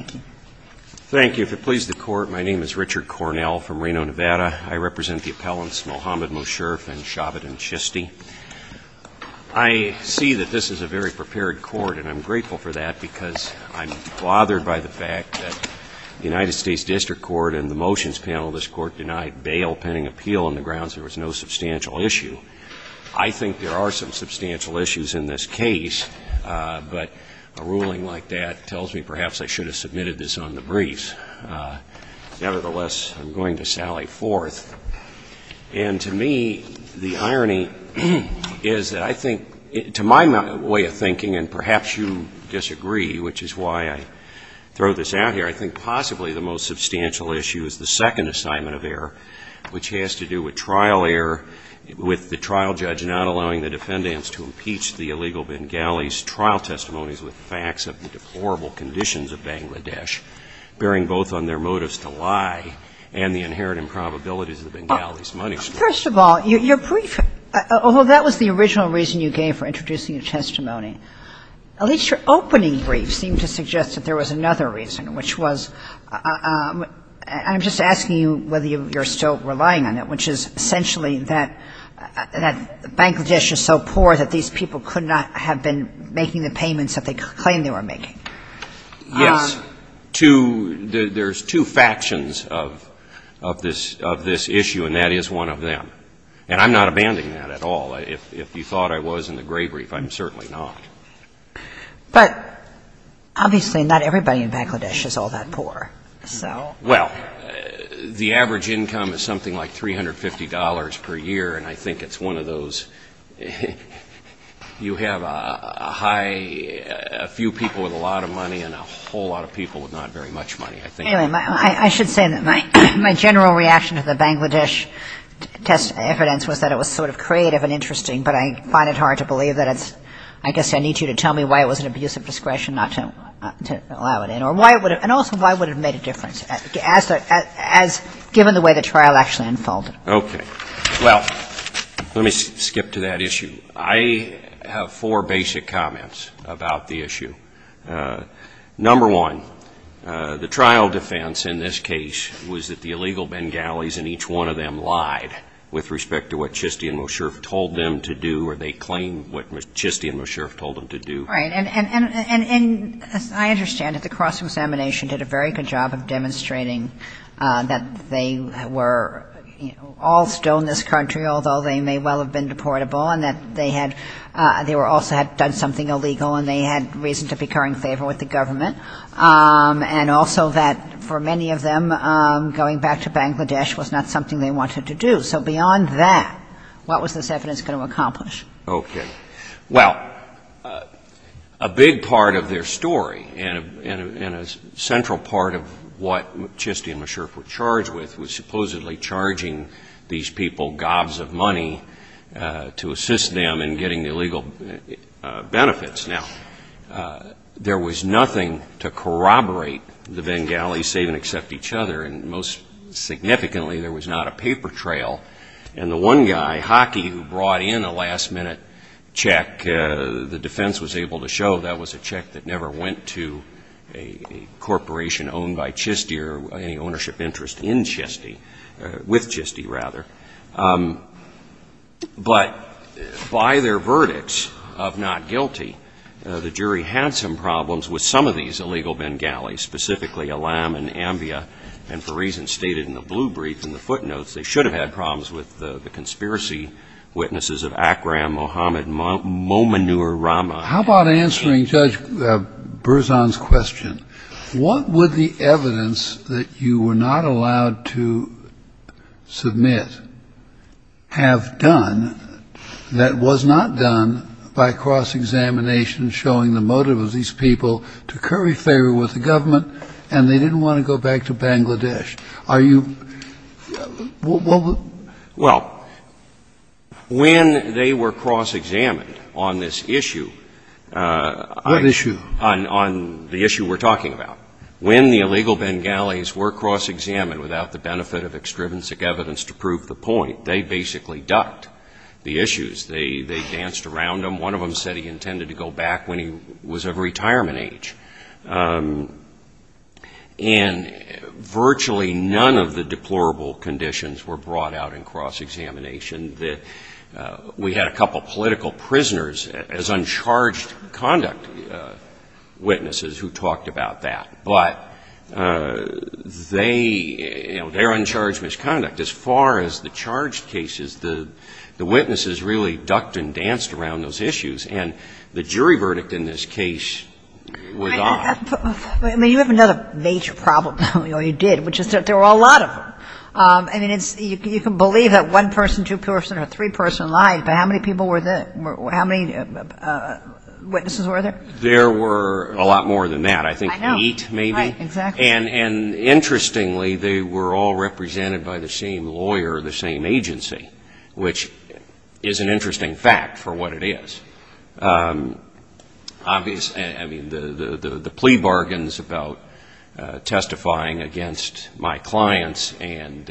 I see that this is a very prepared court and I'm grateful for that because I'm bothered by the fact that the United States District Court and the motions panel of this court denied bail pending appeal on the grounds there was no substantial issue. I think there are some substantial issues in this case, but a ruling like that tells me perhaps I should have submitted this on the briefs. Nevertheless, I'm going to sally forth. And to me, the irony is that I think, to my way of thinking, and perhaps you disagree, which is why I throw this out here, I think possibly the most substantial issue is the second assignment of error, which has to do with trial error, with the trial judge not allowing the defendants to impeach the illegal Bengalis, trial testimonies with facts of the deplorable conditions of Bangladesh, bearing both on their motives to lie and the inherent improbabilities of the Bengalis' money story. Kagan First of all, your brief, although that was the original reason you gave for introducing a testimony, at least your opening brief seemed to suggest that there was another reason, which was – and I'm just asking you whether you're still relying on it, which is essentially that Bangladesh is so poor that these people could not have been making the payments that they claimed they were making. Yes. Two – there's two factions of this issue, and that is one of them. And I'm not abandoning that at all. If you thought I was in the gray brief, I'm certainly not. But obviously not everybody in Bangladesh is all that poor, so – Well, the average income is something like $350 per year, and I think it's one of those – you have a high – a few people with a lot of money and a whole lot of people with not very much money, I think. Anyway, I should say that my general reaction to the Bangladesh test evidence was that it was sort of creative and interesting, but I find it hard to believe that it's – I guess I need you to tell me why it was an abuse of discretion not to allow it in, or why it would have – and also why it would have made a difference, as – given the way the trial actually unfolded. Okay. Well, let me skip to that issue. I have four basic comments about the issue. Number one, the trial defense in this case was that the illegal Bengalis and each one of them lied with respect to what Chistie and Mosherf told them to do, or they claimed what Chistie and Mosherf told them to do. Right. And as I understand it, the cross-examination did a very good job of demonstrating that they were all still in this country, although they may well have been deportable, and that they had – they also had done something illegal and they had reason to be incurring favor with the government, and also that for many of them, going back to Bangladesh was not something they wanted to do. So beyond that, what was this evidence going to accomplish? Okay. Well, a big part of their story and a central part of what Chistie and Mosherf were charged with was supposedly charging these people gobs of money to assist them in getting the illegal benefits. Now, there was nothing to corroborate the Bengalis, save and except each other, and most significantly, there was not a paper trail. And the one guy, Hockey, who brought in a last-minute check, the defense was able to show that was a check that never went to a corporation owned by Chistie or any ownership interest in Chistie – with Chistie, rather. But by their verdicts of not guilty, the jury had some problems with some of these illegal Bengalis, specifically Alam and Ambia, and for reasons stated in the blue brief and the footnotes, they should have had problems with the conspiracy witnesses of Akram, Mohammed, Mominur, Rama. How about answering Judge Berzon's question? What would the evidence that you were not allowed to submit have done that was not done by cross-examination showing the motive of these people to curry favor with the government, and they didn't want to go back to Bangladesh? Are you – what would you say? Well, they were cross-examined on this issue. What issue? On the issue we're talking about. When the illegal Bengalis were cross-examined without the benefit of extrinsic evidence to prove the point, they basically ducked the issues. They danced around them. One of them said he intended to go back when he was of retirement age. And virtually none of the deplorable conditions were brought out in cross-examination that we had a couple of political prisoners as uncharged conduct witnesses who talked about that. But they, you know, they're uncharged misconduct. As far as the charged cases, the witnesses really ducked and danced around those issues, and the jury verdict in this case was odd. I mean, you have another major problem, you know, you did, which is that there were a lot of them. I mean, it's – you can believe that one person, two person, or three person lied, but how many people were there? How many witnesses were there? There were a lot more than that. I know. I think eight maybe. Right, exactly. And interestingly, they were all represented by the same lawyer, the same agency, which is an interesting fact for what it is. Obviously – I mean, the plea bargains about testifying against my clients and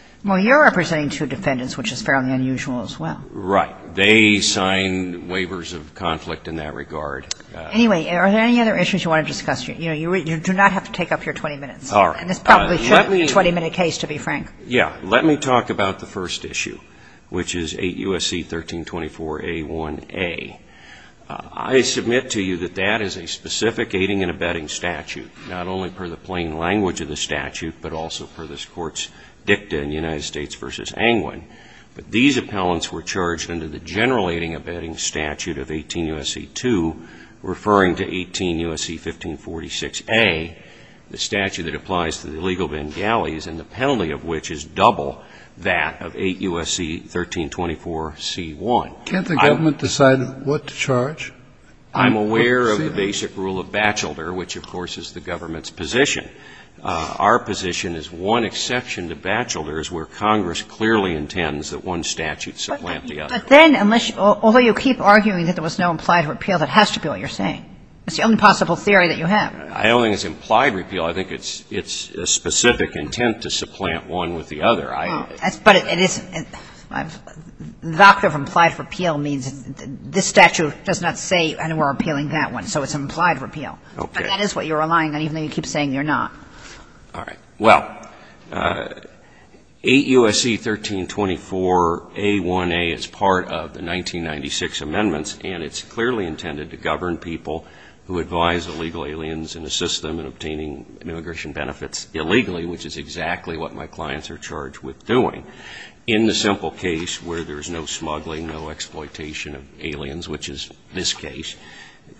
– Well, you're representing two defendants, which is fairly unusual as well. Right. They signed waivers of conflict in that regard. Anyway, are there any other issues you want to discuss? You know, you do not have to take up your 20 minutes, and this probably should be a 20-minute case, to be frank. Yeah. Let me talk about the first issue, which is 8 U.S.C. 1324a1a. I submit to you that that is a specific aiding and abetting statute, not only per the plain language of the statute, but also per this Court's dicta in the United States v. Angwin. But these appellants were charged under the general aiding and abetting statute of 18 U.S.C. 2, referring to 18 U.S.C. 1546a, the statute that applies to the illegal Bengalis, and the penalty of which is double that of 8 U.S.C. 1324c1. Can't the government decide what to charge? I'm aware of the basic rule of Batchelder, which, of course, is the government's position. Our position is one exception to Batchelder is where Congress clearly intends that one statute supplant the other. But then, unless you – although you keep arguing that there was no implied repeal, that has to be what you're saying. It's the only possible theory that you have. I don't think it's implied repeal. I think it's a specific intent to supplant one with the other. But it isn't. The doctrine of implied repeal means this statute does not say we're appealing that one, so it's an implied repeal. Okay. But that is what you're relying on, even though you keep saying you're not. All right. Well, 8 U.S.C. 1324a1a is part of the 1996 amendments, and it's clearly intended to govern people who advise illegal aliens and assist them in obtaining immigration benefits illegally, which is exactly what my clients are charged with doing. In the simple case where there's no smuggling, no exploitation of aliens, which is this case,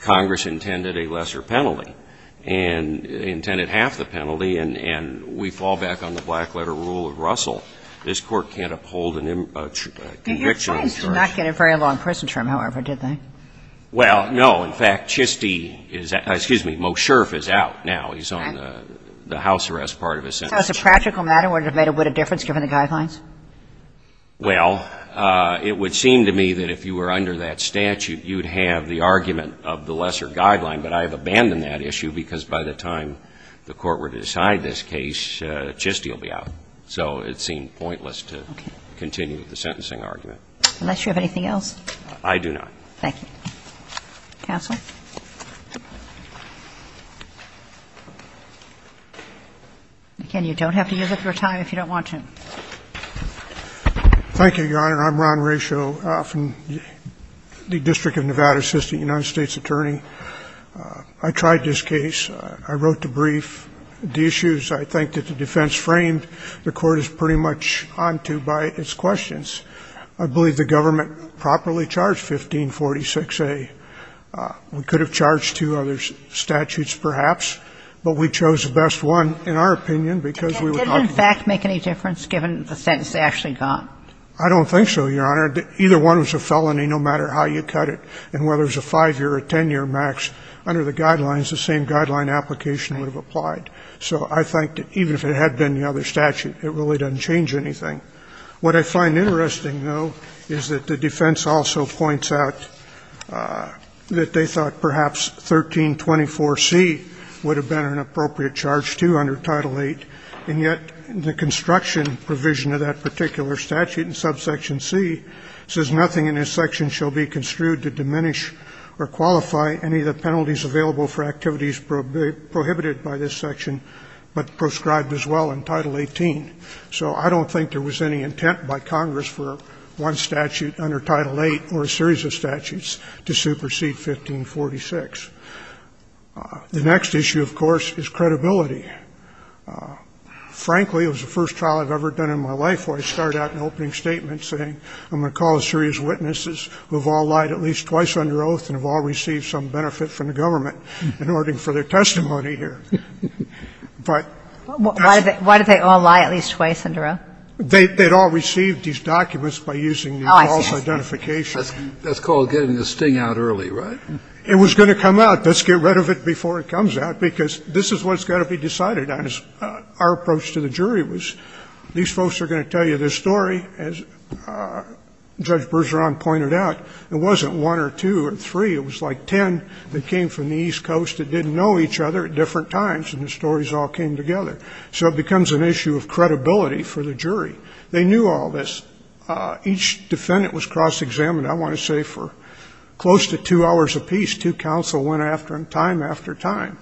Congress intended a lesser penalty, and intended half the penalty, and we fall back on the black-letter rule of Russell. This Court can't uphold a conviction in this case. But your clients did not get a very long prison term, however, did they? Well, no. In fact, Chistie is – excuse me, Mosherf is out now. He's on the house arrest part of his sentence. So it's a practical matter, would it have made a bit of difference given the guidelines? Well, it would seem to me that if you were under that statute, you would have the argument of the lesser guideline, but I have abandoned that issue because by the time the Court were to decide this case, Chistie will be out. So it seemed pointless to continue with the sentencing argument. Unless you have anything else. I do not. Thank you. Counsel? Again, you don't have to use up your time if you don't want to. Thank you, Your Honor. I'm Ron Ratio from the District of Nevada, Assistant United States Attorney. I tried this case. I wrote the brief. The issues I think that the defense framed, the Court is pretty much onto by its questions. I believe the government properly charged 1546A. We could have charged two other statutes perhaps, but we chose the best one, in our opinion, because we were talking Did it in fact make any difference given the sentence they actually got? I don't think so, Your Honor. Either one was a felony, no matter how you cut it. And whether it was a five-year or ten-year max, under the guidelines, the same guideline application would have applied. So I think that even if it had been the other statute, it really doesn't change anything. What I find interesting, though, is that the defense also points out that they thought perhaps 1324C would have been an appropriate charge, too, under Title VIII, and yet the construction provision of that particular statute in subsection C says nothing in this section shall be construed to diminish or qualify any of the penalties available for activities prohibited by this section, but proscribed as well in Title XVIII. So I don't think there was any intent by Congress for one of these statutes to supersede 1546. The next issue, of course, is credibility. Frankly, it was the first trial I've ever done in my life where I started out an opening statement saying, I'm going to call a series of witnesses who have all lied at least twice under oath and have all received some benefit from the government in order for their testimony here. Why did they all lie at least twice under oath? They had all received these documents by using the false identification. That's called getting the sting out early, right? It was going to come out. Let's get rid of it before it comes out, because this is what's going to be decided on. Our approach to the jury was, these folks are going to tell you this story. As Judge Bergeron pointed out, it wasn't one or two or three. It was like ten that came from the East Coast that didn't know each other at different times, and the stories all came together. So it becomes an issue of credibility for the jury. They knew all this. Each defendant was cross-examined, I want to say, for close to two hours apiece. Two counsel went after them time after time.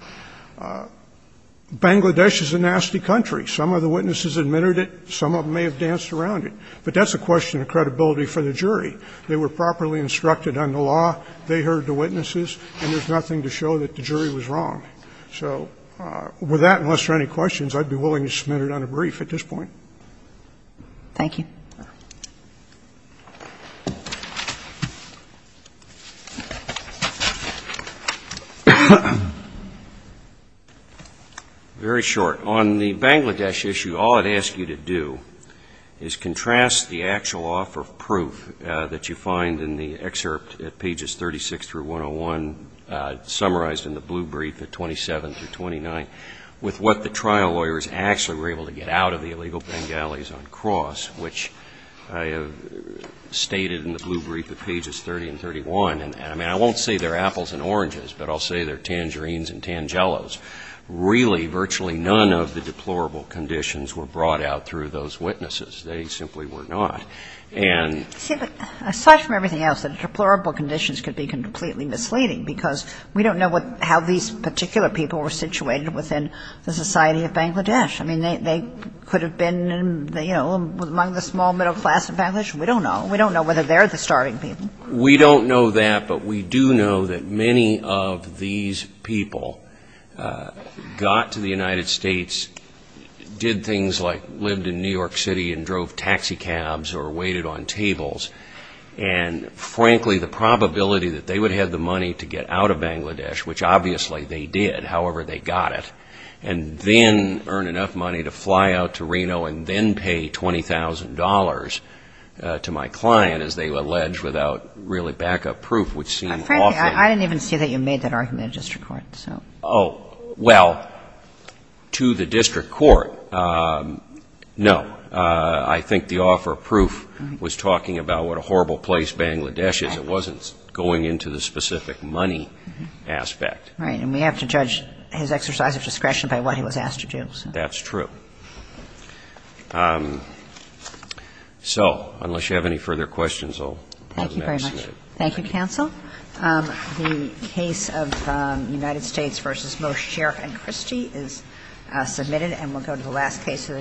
Bangladesh is a nasty country. Some of the witnesses admitted it. Some of them may have danced around it. But that's a question of credibility for the jury. They were properly instructed on the law. They heard the witnesses, and there's nothing to show that the jury was wrong. So with that, unless there are any questions, I'd be willing to submit it on a brief at this point. Thank you. Very short. On the Bangladesh issue, all it asks you to do is contrast the actual offer of proof that you find in the excerpt at pages 36 through 101, summarized in the blue brief at 27 through 29, with what the trial lawyers actually were able to get out of the illegal Bengalis on cross, which I have stated in the blue brief at pages 30 and 31. And I won't say they're apples and oranges, but I'll say they're tangerines and tangellos. Really, virtually none of the deplorable conditions were brought out through those witnesses. They simply were not. And see, but aside from everything else, the deplorable conditions could be completely misleading, because we don't know how these particular people were situated within the Society of Bangladesh. I mean, they could have been, you know, among the small middle class in Bangladesh. We don't know. We don't know whether they're the starving people. We don't know that, but we do know that many of these people got to the United States, did things like lived in New York City and drove taxi cabs or waited on tables, and frankly, the probability that they would have the money to get out of the United States, I don't have enough money to fly out to Reno and then pay $20,000 to my client, as they allege, without really backup proof, which seems awful. Frankly, I didn't even see that you made that argument in district court, so. Oh, well, to the district court, no. I think the offer of proof was talking about what a horrible place Bangladesh is. It wasn't going into the specific money aspect. Right. And we have to judge his exercise of discretion by what he was asked to do. That's true. So, unless you have any further questions, I'll let you know. Thank you very much. Thank you, counsel. The case of United States v. Mosher and Christie is submitted, and we'll go to the last case of the day.